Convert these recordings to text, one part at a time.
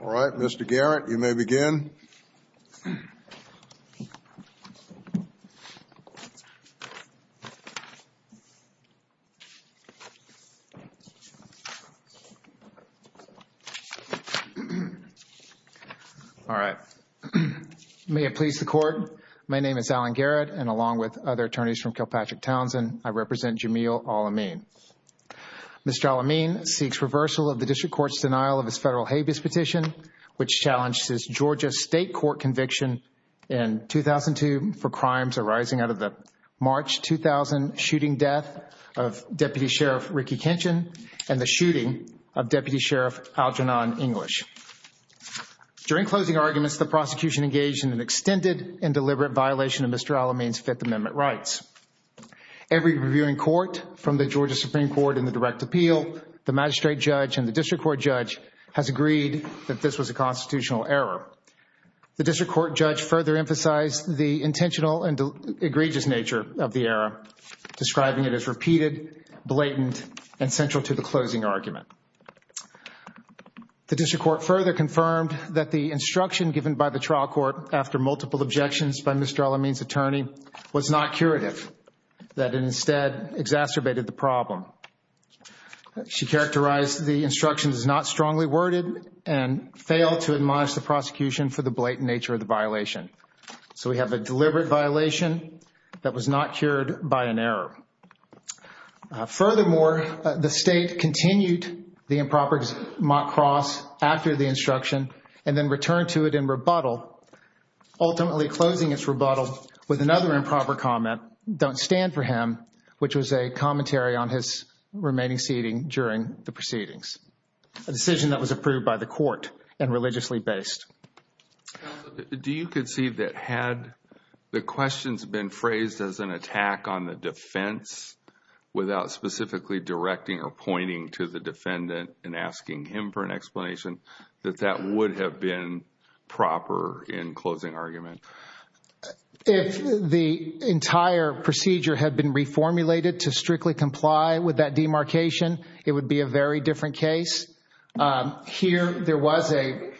Alright, Mr. Garrett, you may begin. May it please the Court, my name is Alan Garrett and along with other attorneys from Kilpatrick Townsend, I represent Jamil Alamin. Mr. Alamin seeks reversal of the District Court's denial of his federal habeas petition which challenged his Georgia State Court conviction in 2002 for crimes arising out of the March 2000 shooting death of Deputy Sheriff Ricky Kinchin and the shooting of Deputy Sheriff Algernon English. During closing arguments, the prosecution engaged in an extended and deliberate violation of Mr. Alamin's Fifth Amendment rights. Every reviewing court from the Georgia Supreme Court in the direct appeal, the magistrate judge, and the District Court judge has agreed that this was a constitutional error. The District Court judge further emphasized the intentional and egregious nature of the error, describing it as repeated, blatant, and central to the closing argument. The District Court further confirmed that the instruction given by the trial court after multiple objections by Mr. Alamin's attorney was not curative, that it instead exacerbated the problem. She characterized the instruction as not strongly worded and failed to admonish the prosecution for the blatant nature of the violation. So we have a deliberate violation that was not cured by an error. Furthermore, the state continued the improper mock cross after the instruction and then returned to it in rebuttal, ultimately closing its rebuttal with another improper comment, don't stand for him, which was a commentary on his remaining seating during the proceedings, a decision that was approved by the court and religiously based. Do you concede that had the questions been phrased as an attack on the defense without specifically directing or pointing to the defendant and asking him for an explanation, that that would have been proper in closing argument? If the entire procedure had been reformulated to strictly comply with that demarcation, it would be a very different case. Here there was a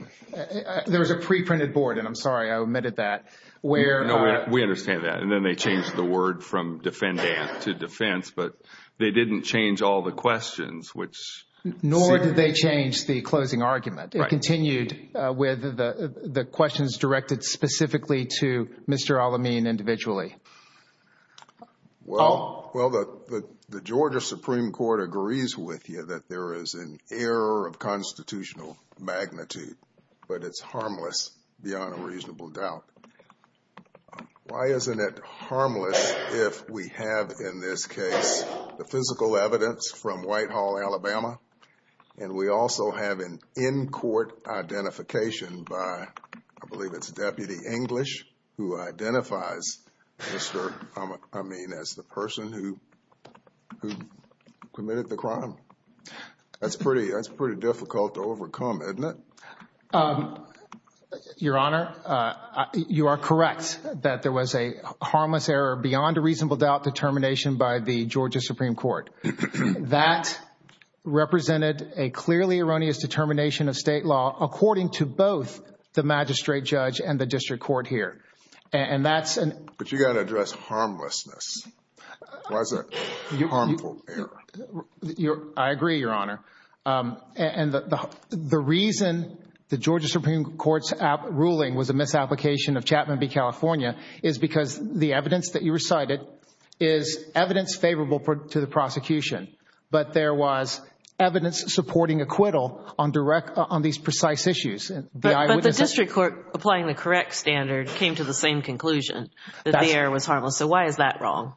there was a preprinted board, and I'm sorry I omitted that where we understand that. And then they changed the word from defendant to defense. But they didn't change all the questions, which nor did they change the closing argument. It continued with the questions directed specifically to Mr. Alamin individually. Well, well, the Georgia Supreme Court agrees with you that there is an error of constitutional magnitude, but it's harmless beyond a reasonable doubt. Why isn't it harmless if we have, in this case, the physical evidence from Whitehall, Alabama? And we also have an in-court identification by, I believe it's Deputy English, who identifies Mr. Alamin as the person who committed the crime. That's pretty, that's pretty difficult to overcome, isn't it? Your Honor, you are correct that there was a harmless error beyond a reasonable doubt determination by the Georgia Supreme Court. That represented a clearly erroneous determination of state law according to both the magistrate judge and the district court here. And that's an But you got to address harmlessness. Why is that a harmful error? I agree, Your Honor. And the reason the Georgia Supreme Court's ruling was a misapplication of Chapman v. California is because the evidence that you recited is evidence favorable to the prosecution. But there was evidence supporting acquittal on direct, on these precise issues. But the district court applying the correct standard came to the same conclusion that the error was harmless. So why is that wrong?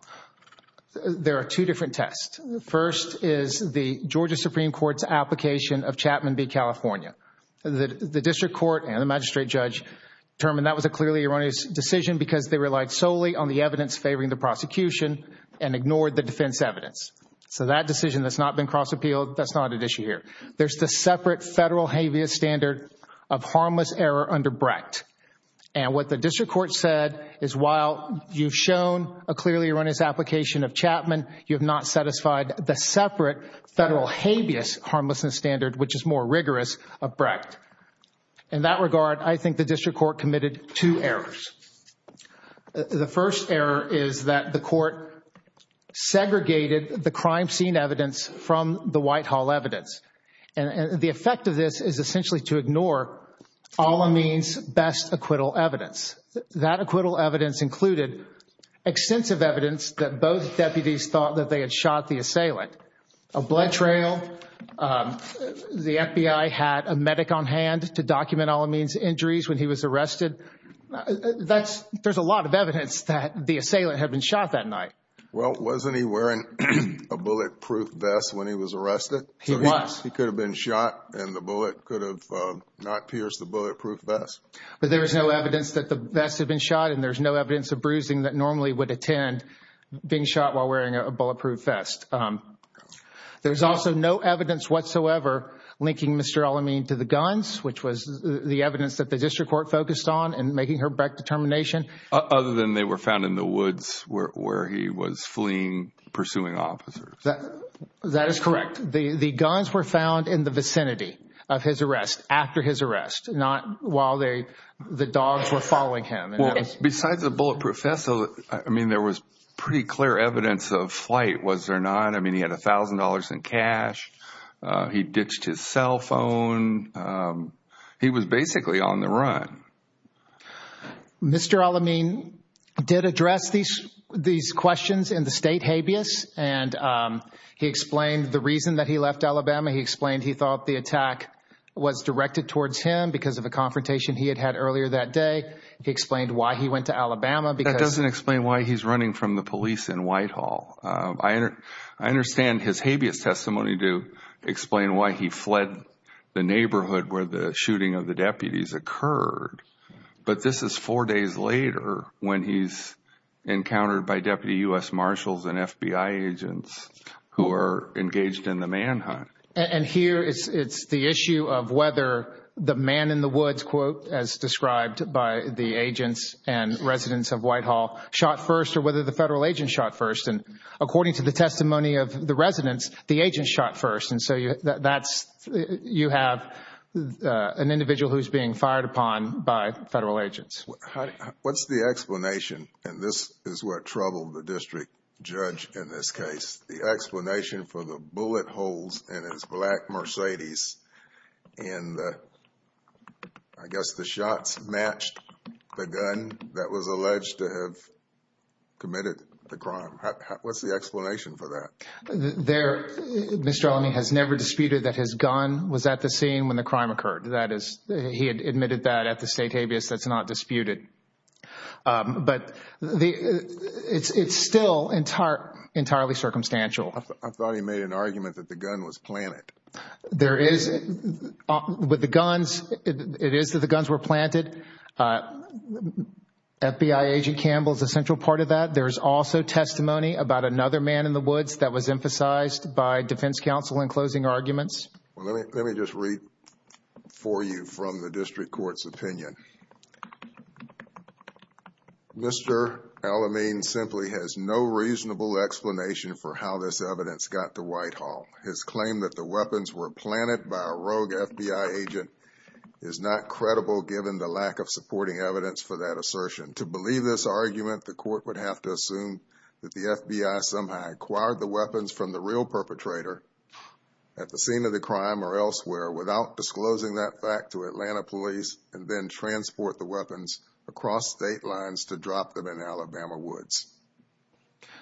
There are two different tests. The first is the Georgia Supreme Court's application of Chapman v. California. The district court and the magistrate judge determined that was a clearly erroneous decision because they relied solely on the evidence favoring the prosecution and ignored the defense evidence. So that decision has not been cross-appealed. That's not at issue here. There's the separate federal habeas standard of harmless error under Brecht. And what the district court said is while you've shown a clearly erroneous application of Chapman, you have not satisfied the separate federal habeas harmlessness standard, which is more rigorous, of Brecht. In that regard, I think the district court committed two errors. The first error is that the court segregated the crime scene evidence from the White Hall evidence. And the effect of this is essentially to ignore Al-Amin's best acquittal evidence. That acquittal evidence included extensive evidence that both deputies thought that they had shot the assailant. A blood trail, the FBI had a medic on hand to document Al-Amin's injuries when he was arrested. There's a lot of evidence that the assailant had been shot that night. Well, wasn't he wearing a bulletproof vest when he was arrested? He was. He could have been shot and the bullet could have not pierced the bulletproof vest. But there's no evidence that the vest had been shot and there's no evidence of bruising that normally would attend being shot while wearing a bulletproof vest. There's also no evidence whatsoever linking Mr. Al-Amin to the guns, which was the evidence that the district court focused on in making her Brecht determination. Other than they were found in the woods where he was fleeing, pursuing officers. That is correct. The guns were found in the vicinity of his arrest, after his arrest, not while the dogs were following him. Besides the bulletproof vest, I mean, there was pretty clear evidence of flight, was there not? I mean, he had $1,000 in cash. He ditched his cell phone. He was basically on the run. Mr. Al-Amin did address these questions in the state habeas. And he explained the reason that he left Alabama. He explained he thought the attack was directed towards him because of a confrontation he had had earlier that day. He explained why he went to Alabama. That doesn't explain why he's running from the police in Whitehall. I understand his habeas testimony to explain why he fled the neighborhood where the shooting of the deputies occurred. But this is four days later when he's encountered by deputy U.S. marshals and FBI agents who are engaged in the manhunt. And here it's the issue of whether the man in the woods, quote, as described by the agents and residents of Whitehall, shot first or whether the federal agent shot first. And according to the testimony of the residents, the agent shot first. And so you have an individual who's being fired upon by federal agents. What's the explanation? And this is what troubled the district judge in this case. What's the explanation for the bullet holes in his black Mercedes? And I guess the shots matched the gun that was alleged to have committed the crime. What's the explanation for that? There, Mr. Ellamy has never disputed that his gun was at the scene when the crime occurred. That is, he had admitted that at the state habeas. That's not disputed. But it's still entirely circumstantial. I thought he made an argument that the gun was planted. There is, with the guns, it is that the guns were planted. FBI agent Campbell is a central part of that. There is also testimony about another man in the woods that was emphasized by defense counsel in closing arguments. Well, let me just read for you from the district court's opinion. Mr. Ellamy simply has no reasonable explanation for how this evidence got to Whitehall. His claim that the weapons were planted by a rogue FBI agent is not credible, given the lack of supporting evidence for that assertion. To believe this argument, the court would have to assume that the FBI somehow acquired the weapons from the real perpetrator at the scene of the crime or elsewhere without disclosing that fact to Atlanta police and then transport the weapons across state lines to drop them in Alabama woods.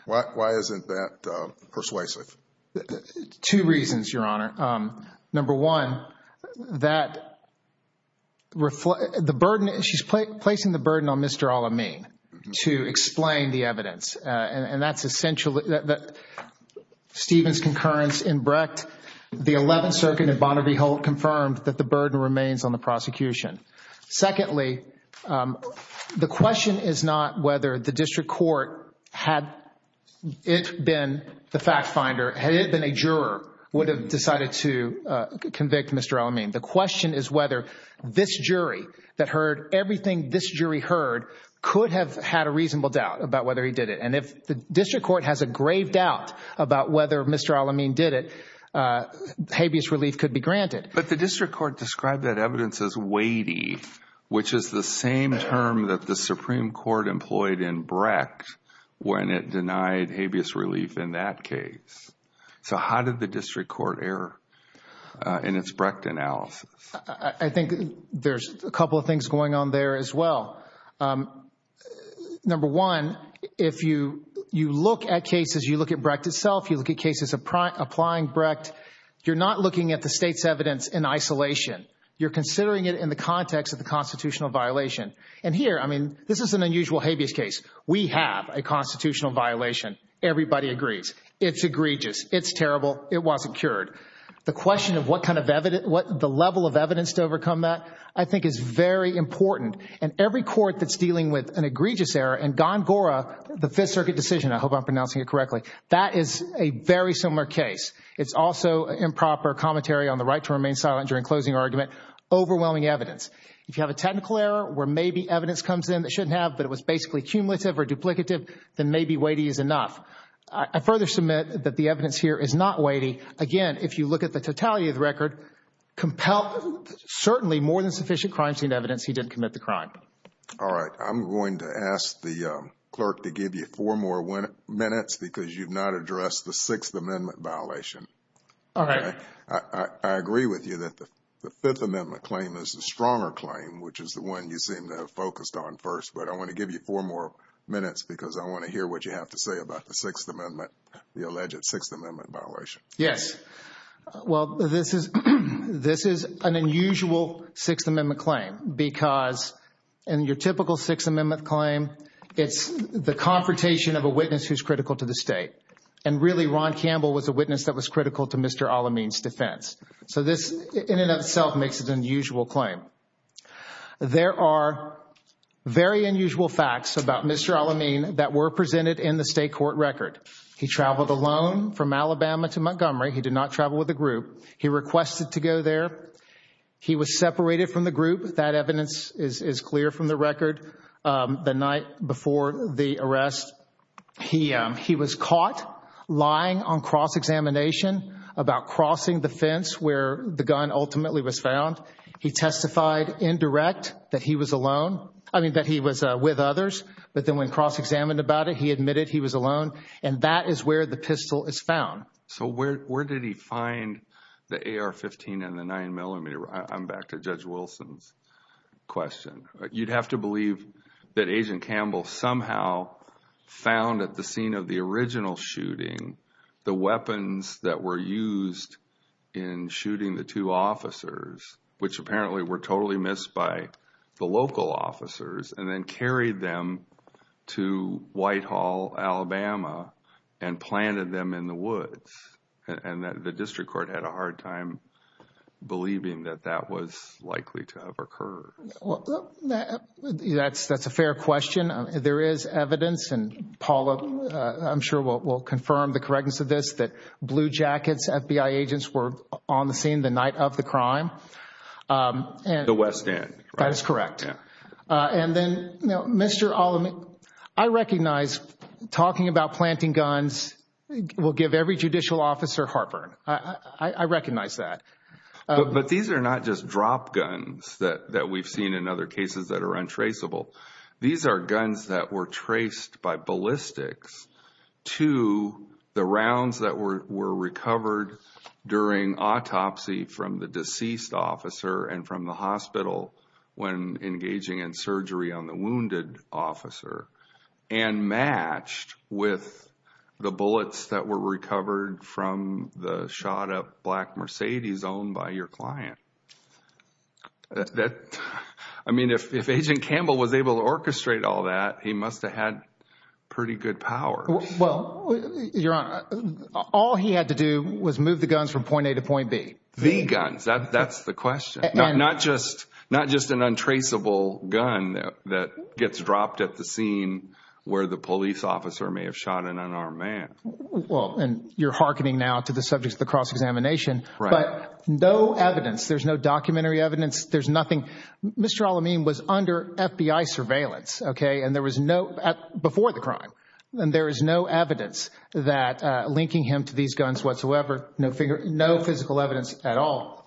Why isn't that persuasive? Two reasons, Your Honor. Number one, that the burden, she's placing the burden on Mr. Ellamy to explain the evidence. And that's essential. Stephen's concurrence in Brecht, the 11th Circuit and Bonner v. Holt confirmed that the burden remains on the prosecution. Secondly, the question is not whether the district court, had it been the fact finder, had it been a juror, would have decided to convict Mr. Ellamy. The question is whether this jury that heard everything this jury heard could have had a reasonable doubt about whether he did it. And if the district court has a grave doubt about whether Mr. Ellamy did it, habeas relief could be granted. But the district court described that evidence as weighty, which is the same term that the Supreme Court employed in Brecht when it denied habeas relief in that case. So how did the district court err in its Brecht analysis? I think there's a couple of things going on there as well. Number one, if you look at cases, you look at Brecht itself, you look at cases applying Brecht, you're not looking at the state's evidence in isolation. You're considering it in the context of the constitutional violation. And here, I mean, this is an unusual habeas case. We have a constitutional violation. Everybody agrees. It's egregious. It's terrible. It wasn't cured. The question of what kind of evidence, what the level of evidence to overcome that, I think is very important. And every court that's dealing with an egregious error, and Gongora, the Fifth Circuit decision, I hope I'm pronouncing it correctly, that is a very similar case. It's also improper commentary on the right to remain silent during closing argument, overwhelming evidence. If you have a technical error where maybe evidence comes in that shouldn't have, but it was basically cumulative or duplicative, then maybe weighty is enough. I further submit that the evidence here is not weighty. Again, if you look at the totality of the record, certainly more than sufficient crime scene evidence he didn't commit the crime. All right. I'm going to ask the clerk to give you four more minutes because you've not addressed the Sixth Amendment violation. All right. I agree with you that the Fifth Amendment claim is the stronger claim, which is the one you seem to have focused on first. But I want to give you four more minutes because I want to hear what you have to say about the Sixth Amendment, the alleged Sixth Amendment violation. Yes. Well, this is an unusual Sixth Amendment claim because in your typical Sixth Amendment claim, it's the confrontation of a witness who's critical to the state. And really, Ron Campbell was a witness that was critical to Mr. Al-Amin's defense. So this in and of itself makes it an unusual claim. There are very unusual facts about Mr. Al-Amin that were presented in the state court record. He traveled alone from Alabama to Montgomery. He did not travel with a group. He requested to go there. He was separated from the group. That evidence is clear from the record. The night before the arrest, he was caught lying on cross-examination about crossing the fence where the gun ultimately was found. He testified indirect that he was alone, I mean, that he was with others. But then when cross-examined about it, he admitted he was alone. And that is where the pistol is found. So where did he find the AR-15 and the 9mm? I'm back to Judge Wilson's question. You'd have to believe that Agent Campbell somehow found at the scene of the original shooting the weapons that were used in shooting the two officers, which apparently were totally missed by the local officers, and then carried them to Whitehall, Alabama, and planted them in the woods. And the district court had a hard time believing that that was likely to have occurred. That's a fair question. There is evidence, and Paula, I'm sure, will confirm the correctness of this, that Blue Jackets FBI agents were on the scene the night of the crime. The West End, right? That is correct. And then, you know, Mr. Allamy, I recognize talking about planting guns will give every judicial officer heartburn. I recognize that. But these are not just drop guns that we've seen in other cases that are untraceable. These are guns that were traced by ballistics to the rounds that were recovered during autopsy from the deceased officer and from the hospital when engaging in surgery on the wounded officer, and matched with the bullets that were recovered from the shot up black Mercedes owned by your client. I mean, if Agent Campbell was able to orchestrate all that, he must have had pretty good power. Well, Your Honor, all he had to do was move the guns from point A to point B. The guns. That's the question. Not just an untraceable gun that gets dropped at the scene where the police officer may have shot an unarmed man. Well, and you're hearkening now to the subjects of the cross-examination. Right. But no evidence, there's no documentary evidence, there's nothing. Mr. Allamy was under FBI surveillance, okay, and there was no, before the crime, and there is no evidence that linking him to these guns whatsoever. No physical evidence at all.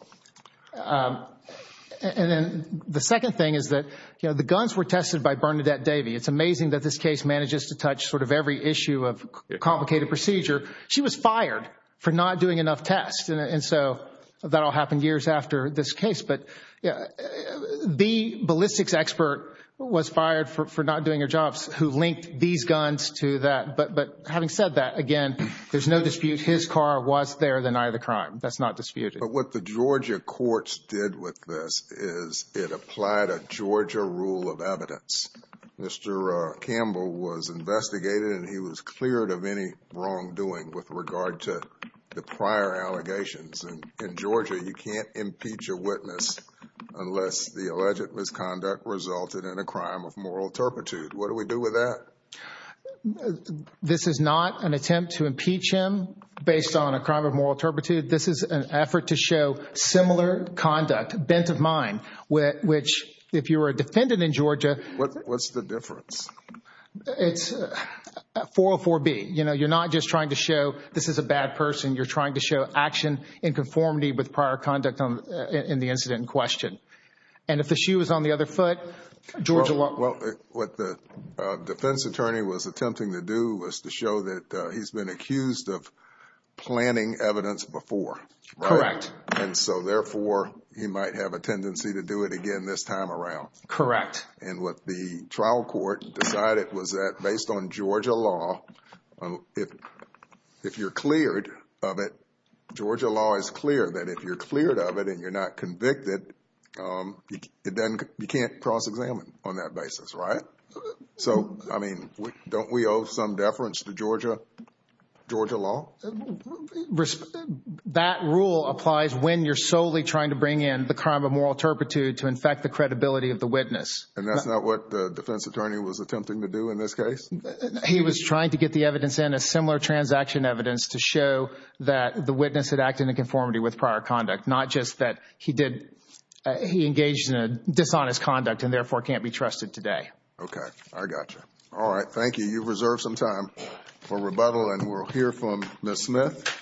And then the second thing is that, you know, the guns were tested by Bernadette Davey. It's amazing that this case manages to touch sort of every issue of complicated procedure. She was fired for not doing enough tests, and so that all happened years after this case. But the ballistics expert was fired for not doing her jobs, who linked these guns to that. But having said that, again, there's no dispute his car was there the night of the crime. That's not disputed. But what the Georgia courts did with this is it applied a Georgia rule of evidence. Mr. Campbell was investigated, and he was cleared of any wrongdoing with regard to the prior allegations. In Georgia, you can't impeach a witness unless the alleged misconduct resulted in a crime of moral turpitude. What do we do with that? This is not an attempt to impeach him based on a crime of moral turpitude. This is an effort to show similar conduct, bent of mind, which if you were a defendant in Georgia— What's the difference? It's 404B. You know, you're not just trying to show this is a bad person. You're trying to show action in conformity with prior conduct in the incident in question. And if the shoe was on the other foot, Georgia law— Well, what the defense attorney was attempting to do was to show that he's been accused of planning evidence before. Correct. And so, therefore, he might have a tendency to do it again this time around. Correct. And what the trial court decided was that based on Georgia law, if you're cleared of it— Georgia law is clear that if you're cleared of it and you're not convicted, you can't cross-examine on that basis, right? So, I mean, don't we owe some deference to Georgia law? That rule applies when you're solely trying to bring in the crime of moral turpitude to infect the credibility of the witness. And that's not what the defense attorney was attempting to do in this case? He was trying to get the evidence in, a similar transaction evidence, to show that the witness had acted in conformity with prior conduct, not just that he engaged in a dishonest conduct and, therefore, can't be trusted today. Okay. I got you. All right. Thank you. You've reserved some time for rebuttal, and we'll hear from Ms. Smith.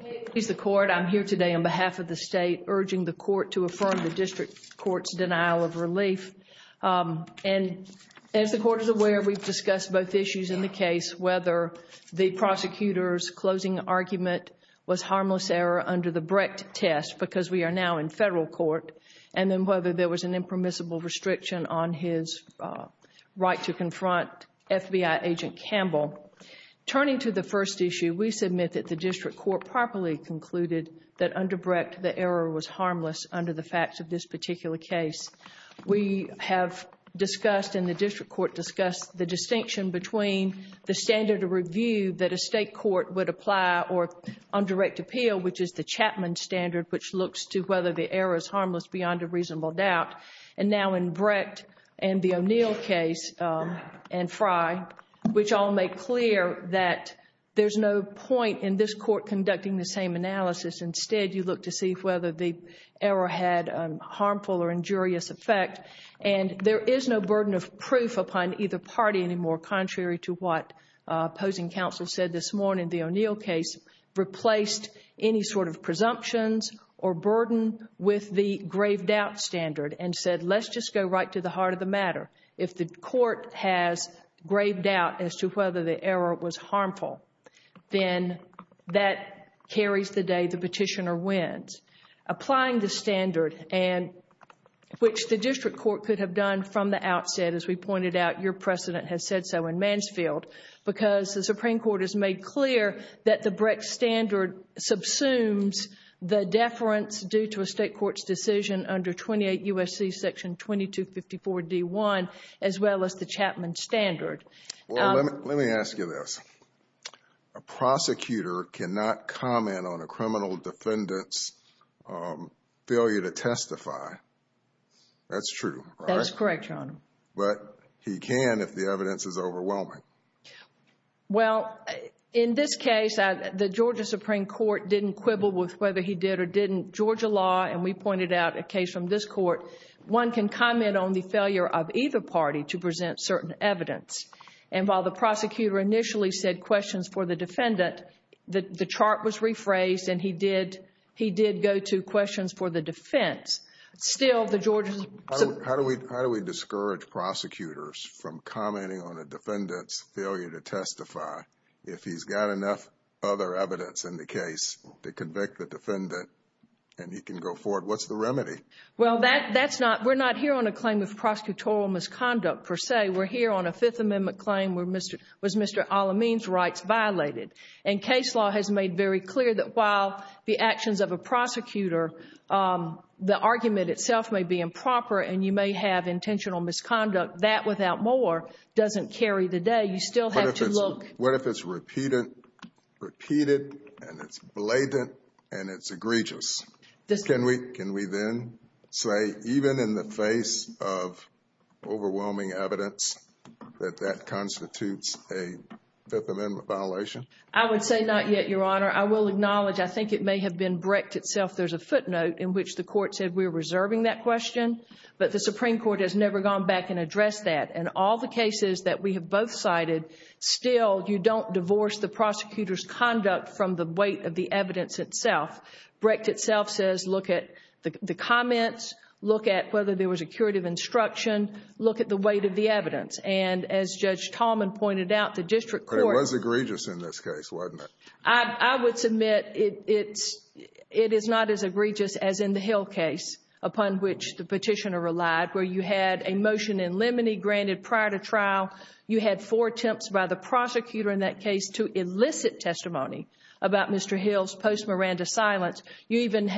Please excuse the court. I'm here today on behalf of the state, urging the court to affirm the district court's denial of relief. And as the court is aware, we've discussed both issues in the case, whether the prosecutor's closing argument was harmless error under the Brecht test, because we are now in federal court, and then whether there was an impermissible restriction on his right to confront FBI agent Campbell. Turning to the first issue, we submit that the district court properly concluded that under Brecht, the error was harmless under the facts of this particular case. We have discussed, and the district court discussed, the distinction between the standard of review that a state court would apply on direct appeal, which is the Chapman standard, which looks to whether the error is harmless beyond a reasonable doubt, and now in Brecht and the O'Neill case and Frye, which all make clear that there's no point in this court conducting the same analysis. Instead, you look to see whether the error had a harmful or injurious effect, and there is no burden of proof upon either party anymore, contrary to what opposing counsel said this morning. The O'Neill case replaced any sort of presumptions or burden with the grave doubt standard and said, let's just go right to the heart of the matter. If the court has grave doubt as to whether the error was harmful, then that carries the day the petitioner wins. Applying the standard, and which the district court could have done from the outset, as we pointed out, your precedent has said so in Mansfield, because the Supreme Court has made clear that the Brecht standard subsumes the deference due to a state court's decision under 28 U.S.C. section 2254 D.1, as well as the Chapman standard. Well, let me ask you this. A prosecutor cannot comment on a criminal defendant's failure to testify. That's true, right? That is correct, Your Honor. But he can if the evidence is overwhelming. Well, in this case, the Georgia Supreme Court didn't quibble with whether he did or didn't. Georgia law, and we pointed out a case from this court, one can comment on the failure of either party to present certain evidence. And while the prosecutor initially said questions for the defendant, the chart was rephrased and he did go to questions for the defense. Still, the Georgia Supreme Court— How do we discourage prosecutors from commenting on a defendant's failure to testify if he's got enough other evidence in the case to convict the defendant and he can go forward? What's the remedy? Well, that's not—we're not here on a claim of prosecutorial misconduct, per se. We're here on a Fifth Amendment claim where Mr. Al-Amin's rights violated. And case law has made very clear that while the actions of a prosecutor, the argument itself may be improper and you may have intentional misconduct, that without more doesn't carry the day. You still have to look— What if it's repeated and it's blatant and it's egregious? Can we then say even in the face of overwhelming evidence that that constitutes a Fifth Amendment violation? I would say not yet, Your Honor. I will acknowledge I think it may have been Brecht itself. There's a footnote in which the court said we're reserving that question, but the Supreme Court has never gone back and addressed that. In all the cases that we have both cited, still you don't divorce the prosecutor's conduct from the weight of the evidence itself. Brecht itself says look at the comments, look at whether there was a curative instruction, look at the weight of the evidence. And as Judge Tallman pointed out, the district court— But it was egregious in this case, wasn't it? I would submit it is not as egregious as in the Hill case upon which the Petitioner relied where you had a motion in limine granted prior to trial. You had four attempts by the prosecutor in that case to elicit testimony about Mr. Hill's post-Miranda silence. Then you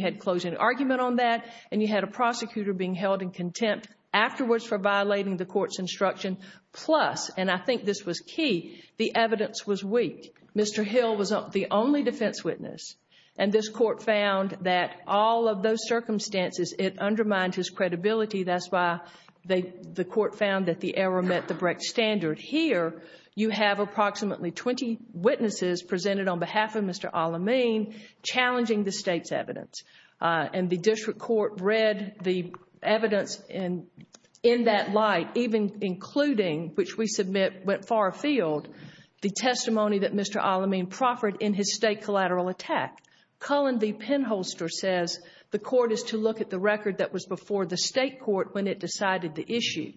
had closing argument on that, and you had a prosecutor being held in contempt afterwards for violating the court's instruction. Plus, and I think this was key, the evidence was weak. Mr. Hill was the only defense witness, and this court found that all of those circumstances, it undermined his credibility. That's why the court found that the error met the Brecht standard. Here, you have approximately 20 witnesses presented on behalf of Mr. Al-Amin challenging the state's evidence. And the district court read the evidence in that light, even including, which we submit went far afield, the testimony that Mr. Al-Amin proffered in his state collateral attack. Cullen v. Penholster says, the court is to look at the record that was before the state court when it decided the issue.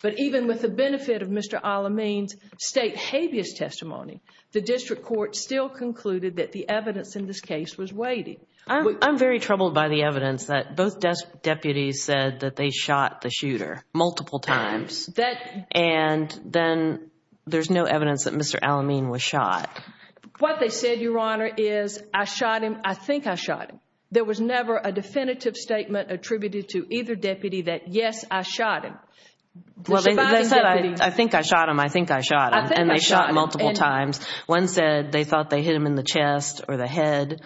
But even with the benefit of Mr. Al-Amin's state habeas testimony, the district court still concluded that the evidence in this case was weighty. I'm very troubled by the evidence that both deputies said that they shot the shooter multiple times, and then there's no evidence that Mr. Al-Amin was shot. What they said, Your Honor, is I shot him, I think I shot him. There was never a definitive statement attributed to either deputy that, yes, I shot him. Well, they said, I think I shot him, I think I shot him, and they shot him multiple times. One said they thought they hit him in the chest or the head.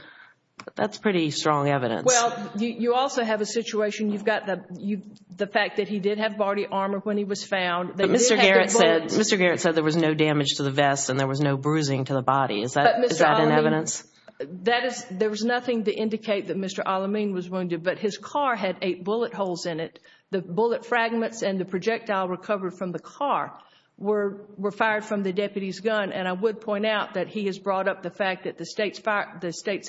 That's pretty strong evidence. Well, you also have a situation. You've got the fact that he did have body armor when he was found. Mr. Garrett said there was no damage to the vest and there was no bruising to the body. Is that in evidence? There was nothing to indicate that Mr. Al-Amin was wounded, but his car had eight bullet holes in it. The bullet fragments and the projectile recovered from the car were fired from the deputy's gun, and I would point out that he has brought up the fact that the state's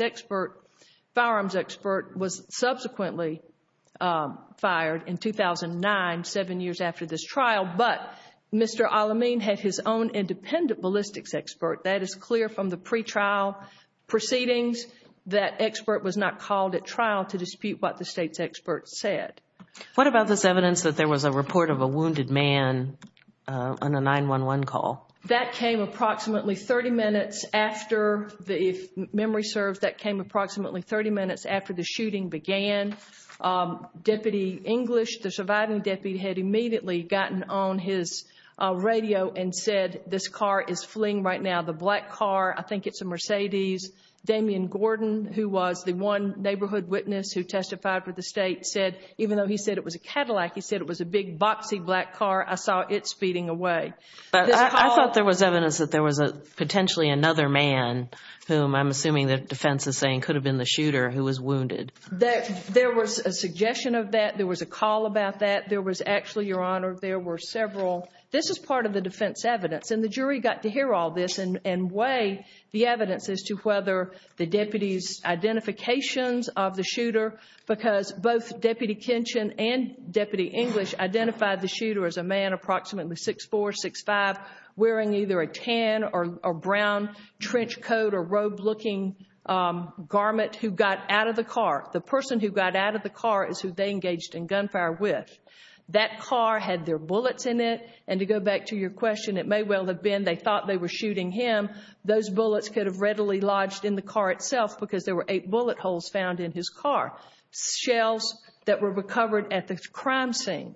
firearms expert was subsequently fired in 2009, seven years after this trial, but Mr. Al-Amin had his own independent ballistics expert. That is clear from the pretrial proceedings. That expert was not called at trial to dispute what the state's expert said. What about this evidence that there was a report of a wounded man on a 911 call? That came approximately 30 minutes after, if memory serves, that came approximately 30 minutes after the shooting began. Deputy English, the surviving deputy, had immediately gotten on his radio and said, this car is fleeing right now, the black car. I think it's a Mercedes. Damian Gordon, who was the one neighborhood witness who testified for the state, said even though he said it was a Cadillac, he said it was a big boxy black car. I saw it speeding away. I thought there was evidence that there was potentially another man, whom I'm assuming the defense is saying could have been the shooter, who was wounded. There was a suggestion of that. There was a call about that. There was actually, Your Honor, there were several. This is part of the defense evidence, and the jury got to hear all this and weigh the evidence as to whether the deputy's identifications of the shooter, because both Deputy Kinchin and Deputy English identified the shooter as a man approximately 6'4", 6'5", wearing either a tan or brown trench coat or robe-looking garment who got out of the car. The person who got out of the car is who they engaged in gunfire with. That car had their bullets in it, and to go back to your question, it may well have been they thought they were shooting him. Those bullets could have readily lodged in the car itself because there were eight bullet holes found in his car. Shells that were recovered at the crime scene,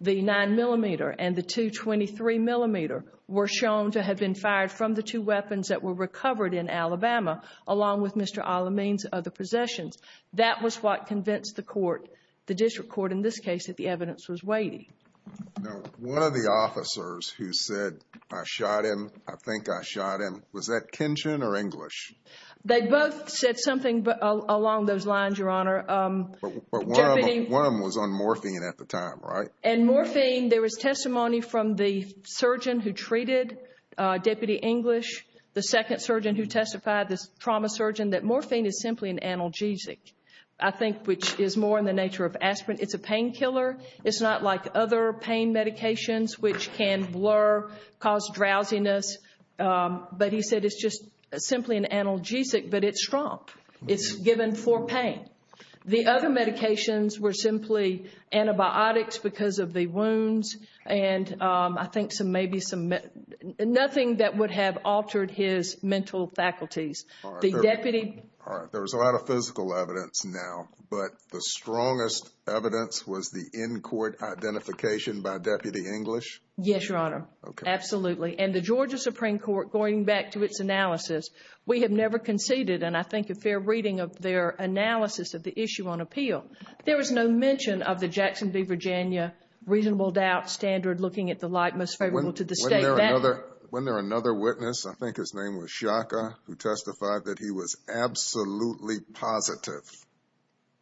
the 9mm and the .223mm, were shown to have been fired from the two weapons that were recovered in Alabama along with Mr. Al-Amin's other possessions. That was what convinced the court, the district court in this case, that the evidence was weighty. Now, one of the officers who said, I shot him, I think I shot him, was that Kinchin or English? They both said something along those lines, Your Honor. But one of them was on morphine at the time, right? And morphine, there was testimony from the surgeon who treated Deputy English, the second surgeon who testified, the trauma surgeon, that morphine is simply an analgesic, I think, which is more in the nature of aspirin. It's a painkiller. It's not like other pain medications, which can blur, cause drowsiness. But he said it's just simply an analgesic, but it's strong. It's given for pain. The other medications were simply antibiotics because of the wounds and I think maybe something that would have altered his mental faculties. All right. There was a lot of physical evidence now, but the strongest evidence was the in-court identification by Deputy English? Yes, Your Honor. Absolutely. And the Georgia Supreme Court, going back to its analysis, we have never conceded, and I think a fair reading of their analysis of the issue on appeal, there was no mention of the Jackson v. Virginia reasonable doubt standard looking at the like most favorable to the state. Wasn't there another witness? I think his name was Shaka, who testified that he was absolutely positive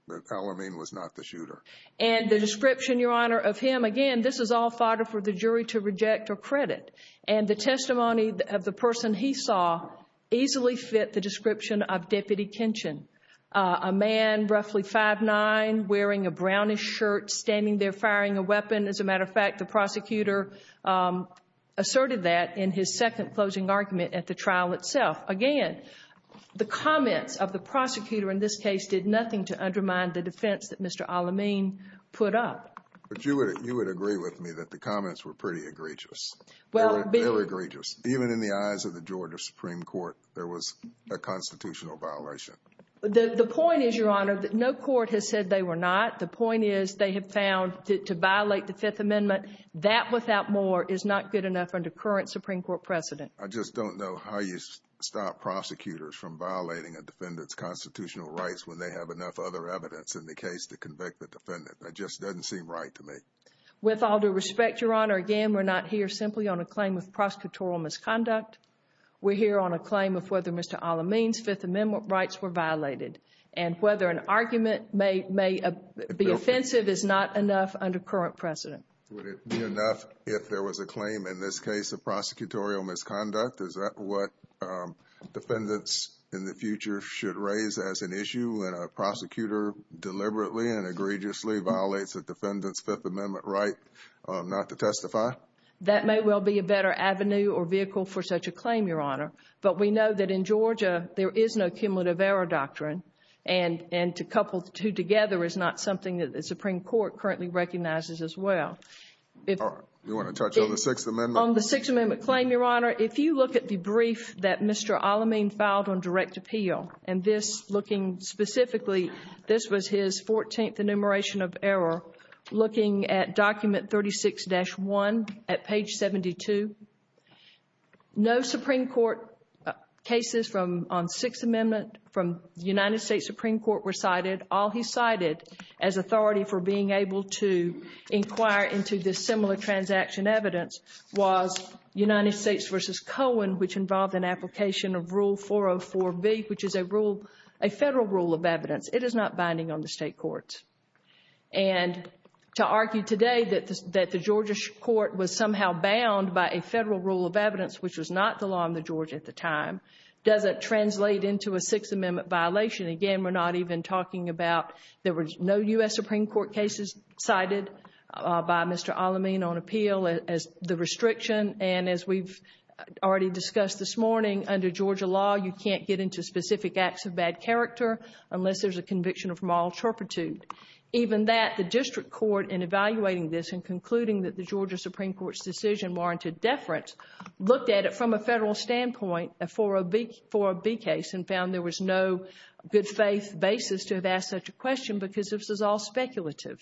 that Alamine was not the shooter. And the description, Your Honor, of him, again, this is all fodder for the jury to reject or credit, and the testimony of the person he saw easily fit the description of Deputy Kinchin, a man roughly 5'9", wearing a brownish shirt, standing there firing a weapon. As a matter of fact, the prosecutor asserted that in his second closing argument at the trial itself. Again, the comments of the prosecutor in this case did nothing to undermine the defense that Mr. Alamine put up. But you would agree with me that the comments were pretty egregious. They were egregious. Even in the eyes of the Georgia Supreme Court, there was a constitutional violation. The point is, Your Honor, that no court has said they were not. The point is they have found to violate the Fifth Amendment. That, without more, is not good enough under current Supreme Court precedent. I just don't know how you stop prosecutors from violating a defendant's constitutional rights when they have enough other evidence in the case to convict the defendant. That just doesn't seem right to me. With all due respect, Your Honor, again, we're not here simply on a claim of prosecutorial misconduct. We're here on a claim of whether Mr. Alamine's Fifth Amendment rights were violated and whether an argument may be offensive is not enough under current precedent. Would it be enough if there was a claim in this case of prosecutorial misconduct? Is that what defendants in the future should raise as an issue when a prosecutor deliberately and egregiously violates a defendant's Fifth Amendment right not to testify? That may well be a better avenue or vehicle for such a claim, Your Honor. But we know that in Georgia there is no cumulative error doctrine, and to couple the two together is not something that the Supreme Court currently recognizes as well. All right. You want to touch on the Sixth Amendment? On the Sixth Amendment claim, Your Honor, if you look at the brief that Mr. Alamine filed on direct appeal, looking at document 36-1 at page 72, no Supreme Court cases on Sixth Amendment from the United States Supreme Court were cited. All he cited as authority for being able to inquire into this similar transaction evidence was United States v. Cohen, which involved an application of Rule 404B, which is a federal rule of evidence. It is not binding on the state courts. And to argue today that the Georgia court was somehow bound by a federal rule of evidence, which was not the law in the Georgia at the time, doesn't translate into a Sixth Amendment violation. Again, we're not even talking about there were no U.S. Supreme Court cases cited by Mr. Alamine on appeal as the restriction. And as we've already discussed this morning, under Georgia law, you can't get into specific acts of bad character unless there's a conviction of moral turpitude. Even that, the district court, in evaluating this and concluding that the Georgia Supreme Court's decision warranted deference, looked at it from a federal standpoint, a 404B case, and found there was no good faith basis to have asked such a question because this is all speculative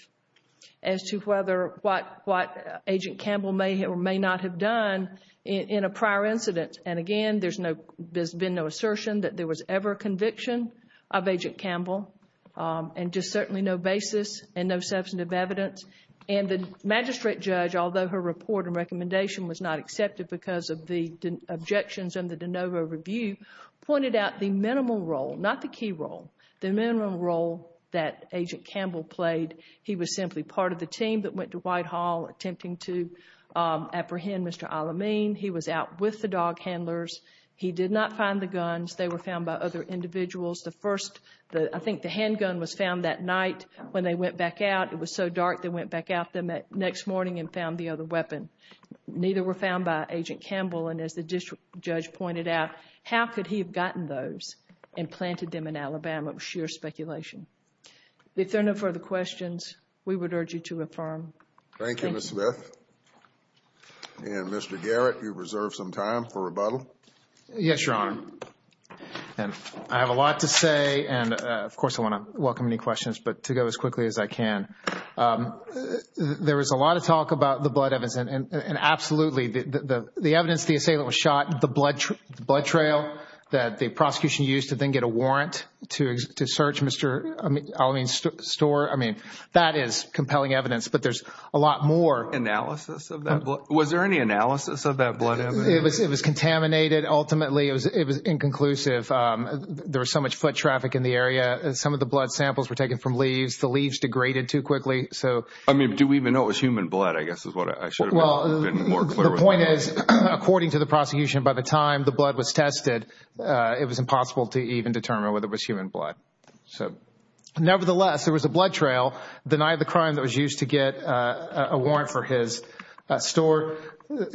as to what Agent Campbell may or may not have done in a prior incident. And again, there's been no assertion that there was ever a conviction of Agent Campbell and just certainly no basis and no substantive evidence. And the magistrate judge, although her report and recommendation was not accepted because of the objections in the de novo review, pointed out the minimal role, not the key role, the minimal role that Agent Campbell played. He was simply part of the team that went to Whitehall attempting to apprehend Mr. Alamine. He was out with the dog handlers. He did not find the guns. They were found by other individuals. I think the handgun was found that night when they went back out. It was so dark they went back out the next morning and found the other weapon. Neither were found by Agent Campbell. And as the district judge pointed out, how could he have gotten those and planted them in Alabama? It was sheer speculation. If there are no further questions, we would urge you to affirm. Thank you. Thank you, Ms. Smith. And Mr. Garrett, you reserve some time for rebuttal. Yes, Your Honor. I have a lot to say, and of course I want to welcome any questions, but to go as quickly as I can. There was a lot of talk about the blood evidence, and absolutely. The evidence, the assailant was shot, the blood trail that the prosecution used to then get a warrant to search Mr. Alamine's store, I mean, that is compelling evidence. But there's a lot more. Analysis of that blood? Was there any analysis of that blood evidence? It was contaminated, ultimately. It was inconclusive. There was so much foot traffic in the area. Some of the blood samples were taken from leaves. The leaves degraded too quickly. I mean, do we even know it was human blood, I guess is what I should have been more clear with. The point is, according to the prosecution, by the time the blood was tested, it was impossible to even determine whether it was human blood. Nevertheless, there was a blood trail denied the crime that was used to get a warrant for his store.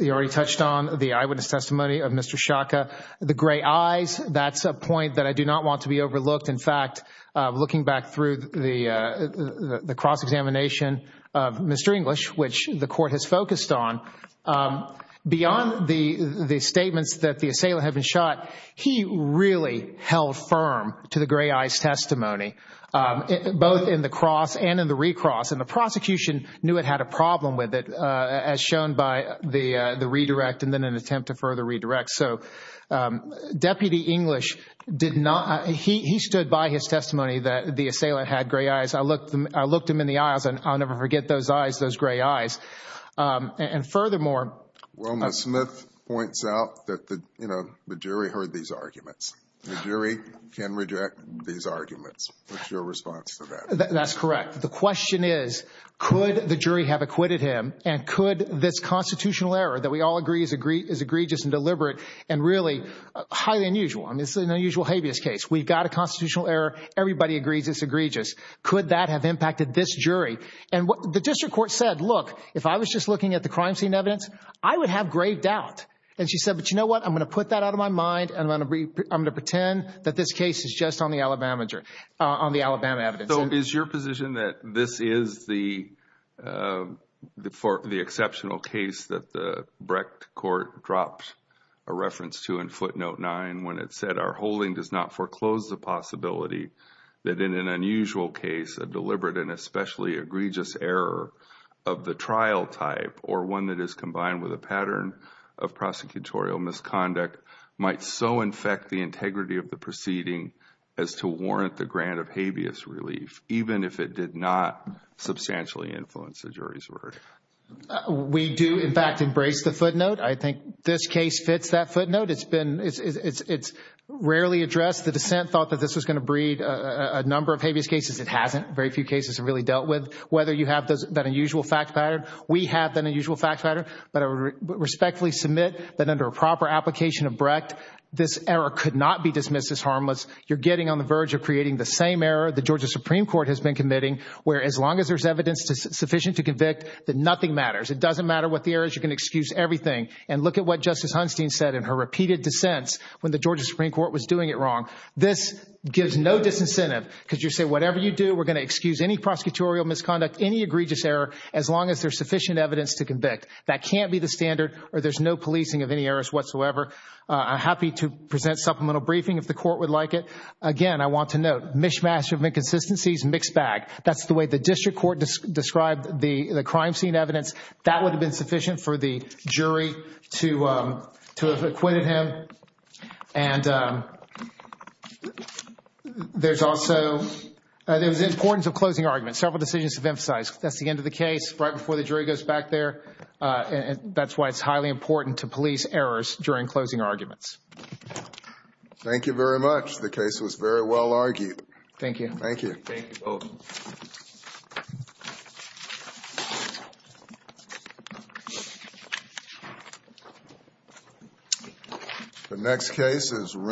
You already touched on the eyewitness testimony of Mr. Shaka. The gray eyes, that's a point that I do not want to be overlooked. In fact, looking back through the cross-examination of Mr. English, which the court has focused on, beyond the statements that the assailant had been shot, he really held firm to the gray eyes testimony, both in the cross and in the recross. The prosecution knew it had a problem with it, as shown by the redirect and then an attempt to further redirect. Deputy English, he stood by his testimony that the assailant had gray eyes. I looked him in the eyes, and I'll never forget those eyes, those gray eyes. And furthermore— Wilma Smith points out that the jury heard these arguments. The jury can reject these arguments. What's your response to that? That's correct. The question is, could the jury have acquitted him? And could this constitutional error that we all agree is egregious and deliberate and really highly unusual? I mean, it's an unusual habeas case. We've got a constitutional error. Everybody agrees it's egregious. Could that have impacted this jury? And the district court said, look, if I was just looking at the crime scene evidence, I would have grave doubt. And she said, but you know what? I'm going to put that out of my mind, and I'm going to pretend that this case is just on the Alabama evidence. So is your position that this is the exceptional case that the Brecht court dropped a reference to in footnote 9 when it said, our holding does not foreclose the possibility that in an unusual case, a deliberate and especially egregious error of the trial type or one that is combined with a pattern of prosecutorial misconduct might so infect the integrity of the proceeding as to warrant the grant of habeas relief, even if it did not substantially influence the jury's verdict? We do, in fact, embrace the footnote. I think this case fits that footnote. It's rarely addressed. The dissent thought that this was going to breed a number of habeas cases. It hasn't. Very few cases have really dealt with whether you have that unusual fact pattern. We have that unusual fact pattern. But I respectfully submit that under a proper application of Brecht, this error could not be dismissed as harmless. You're getting on the verge of creating the same error the Georgia Supreme Court has been committing, where as long as there's evidence sufficient to convict, that nothing matters. It doesn't matter what the error is. You can excuse everything. And look at what Justice Hunstein said in her repeated dissents when the Georgia Supreme Court was doing it wrong. This gives no disincentive because you say whatever you do, we're going to excuse any prosecutorial misconduct, any egregious error as long as there's sufficient evidence to convict. That can't be the standard or there's no policing of any errors whatsoever. I'm happy to present supplemental briefing if the court would like it. Again, I want to note, mishmash of inconsistencies, mixed bag. That's the way the district court described the crime scene evidence. That would have been sufficient for the jury to have acquitted him. And there's also the importance of closing arguments. Several decisions have emphasized that's the end of the case right before the jury goes back there. That's why it's highly important to police errors during closing arguments. Thank you very much. The case was very well argued. Thank you. Thank you. Thank you both. Thank you.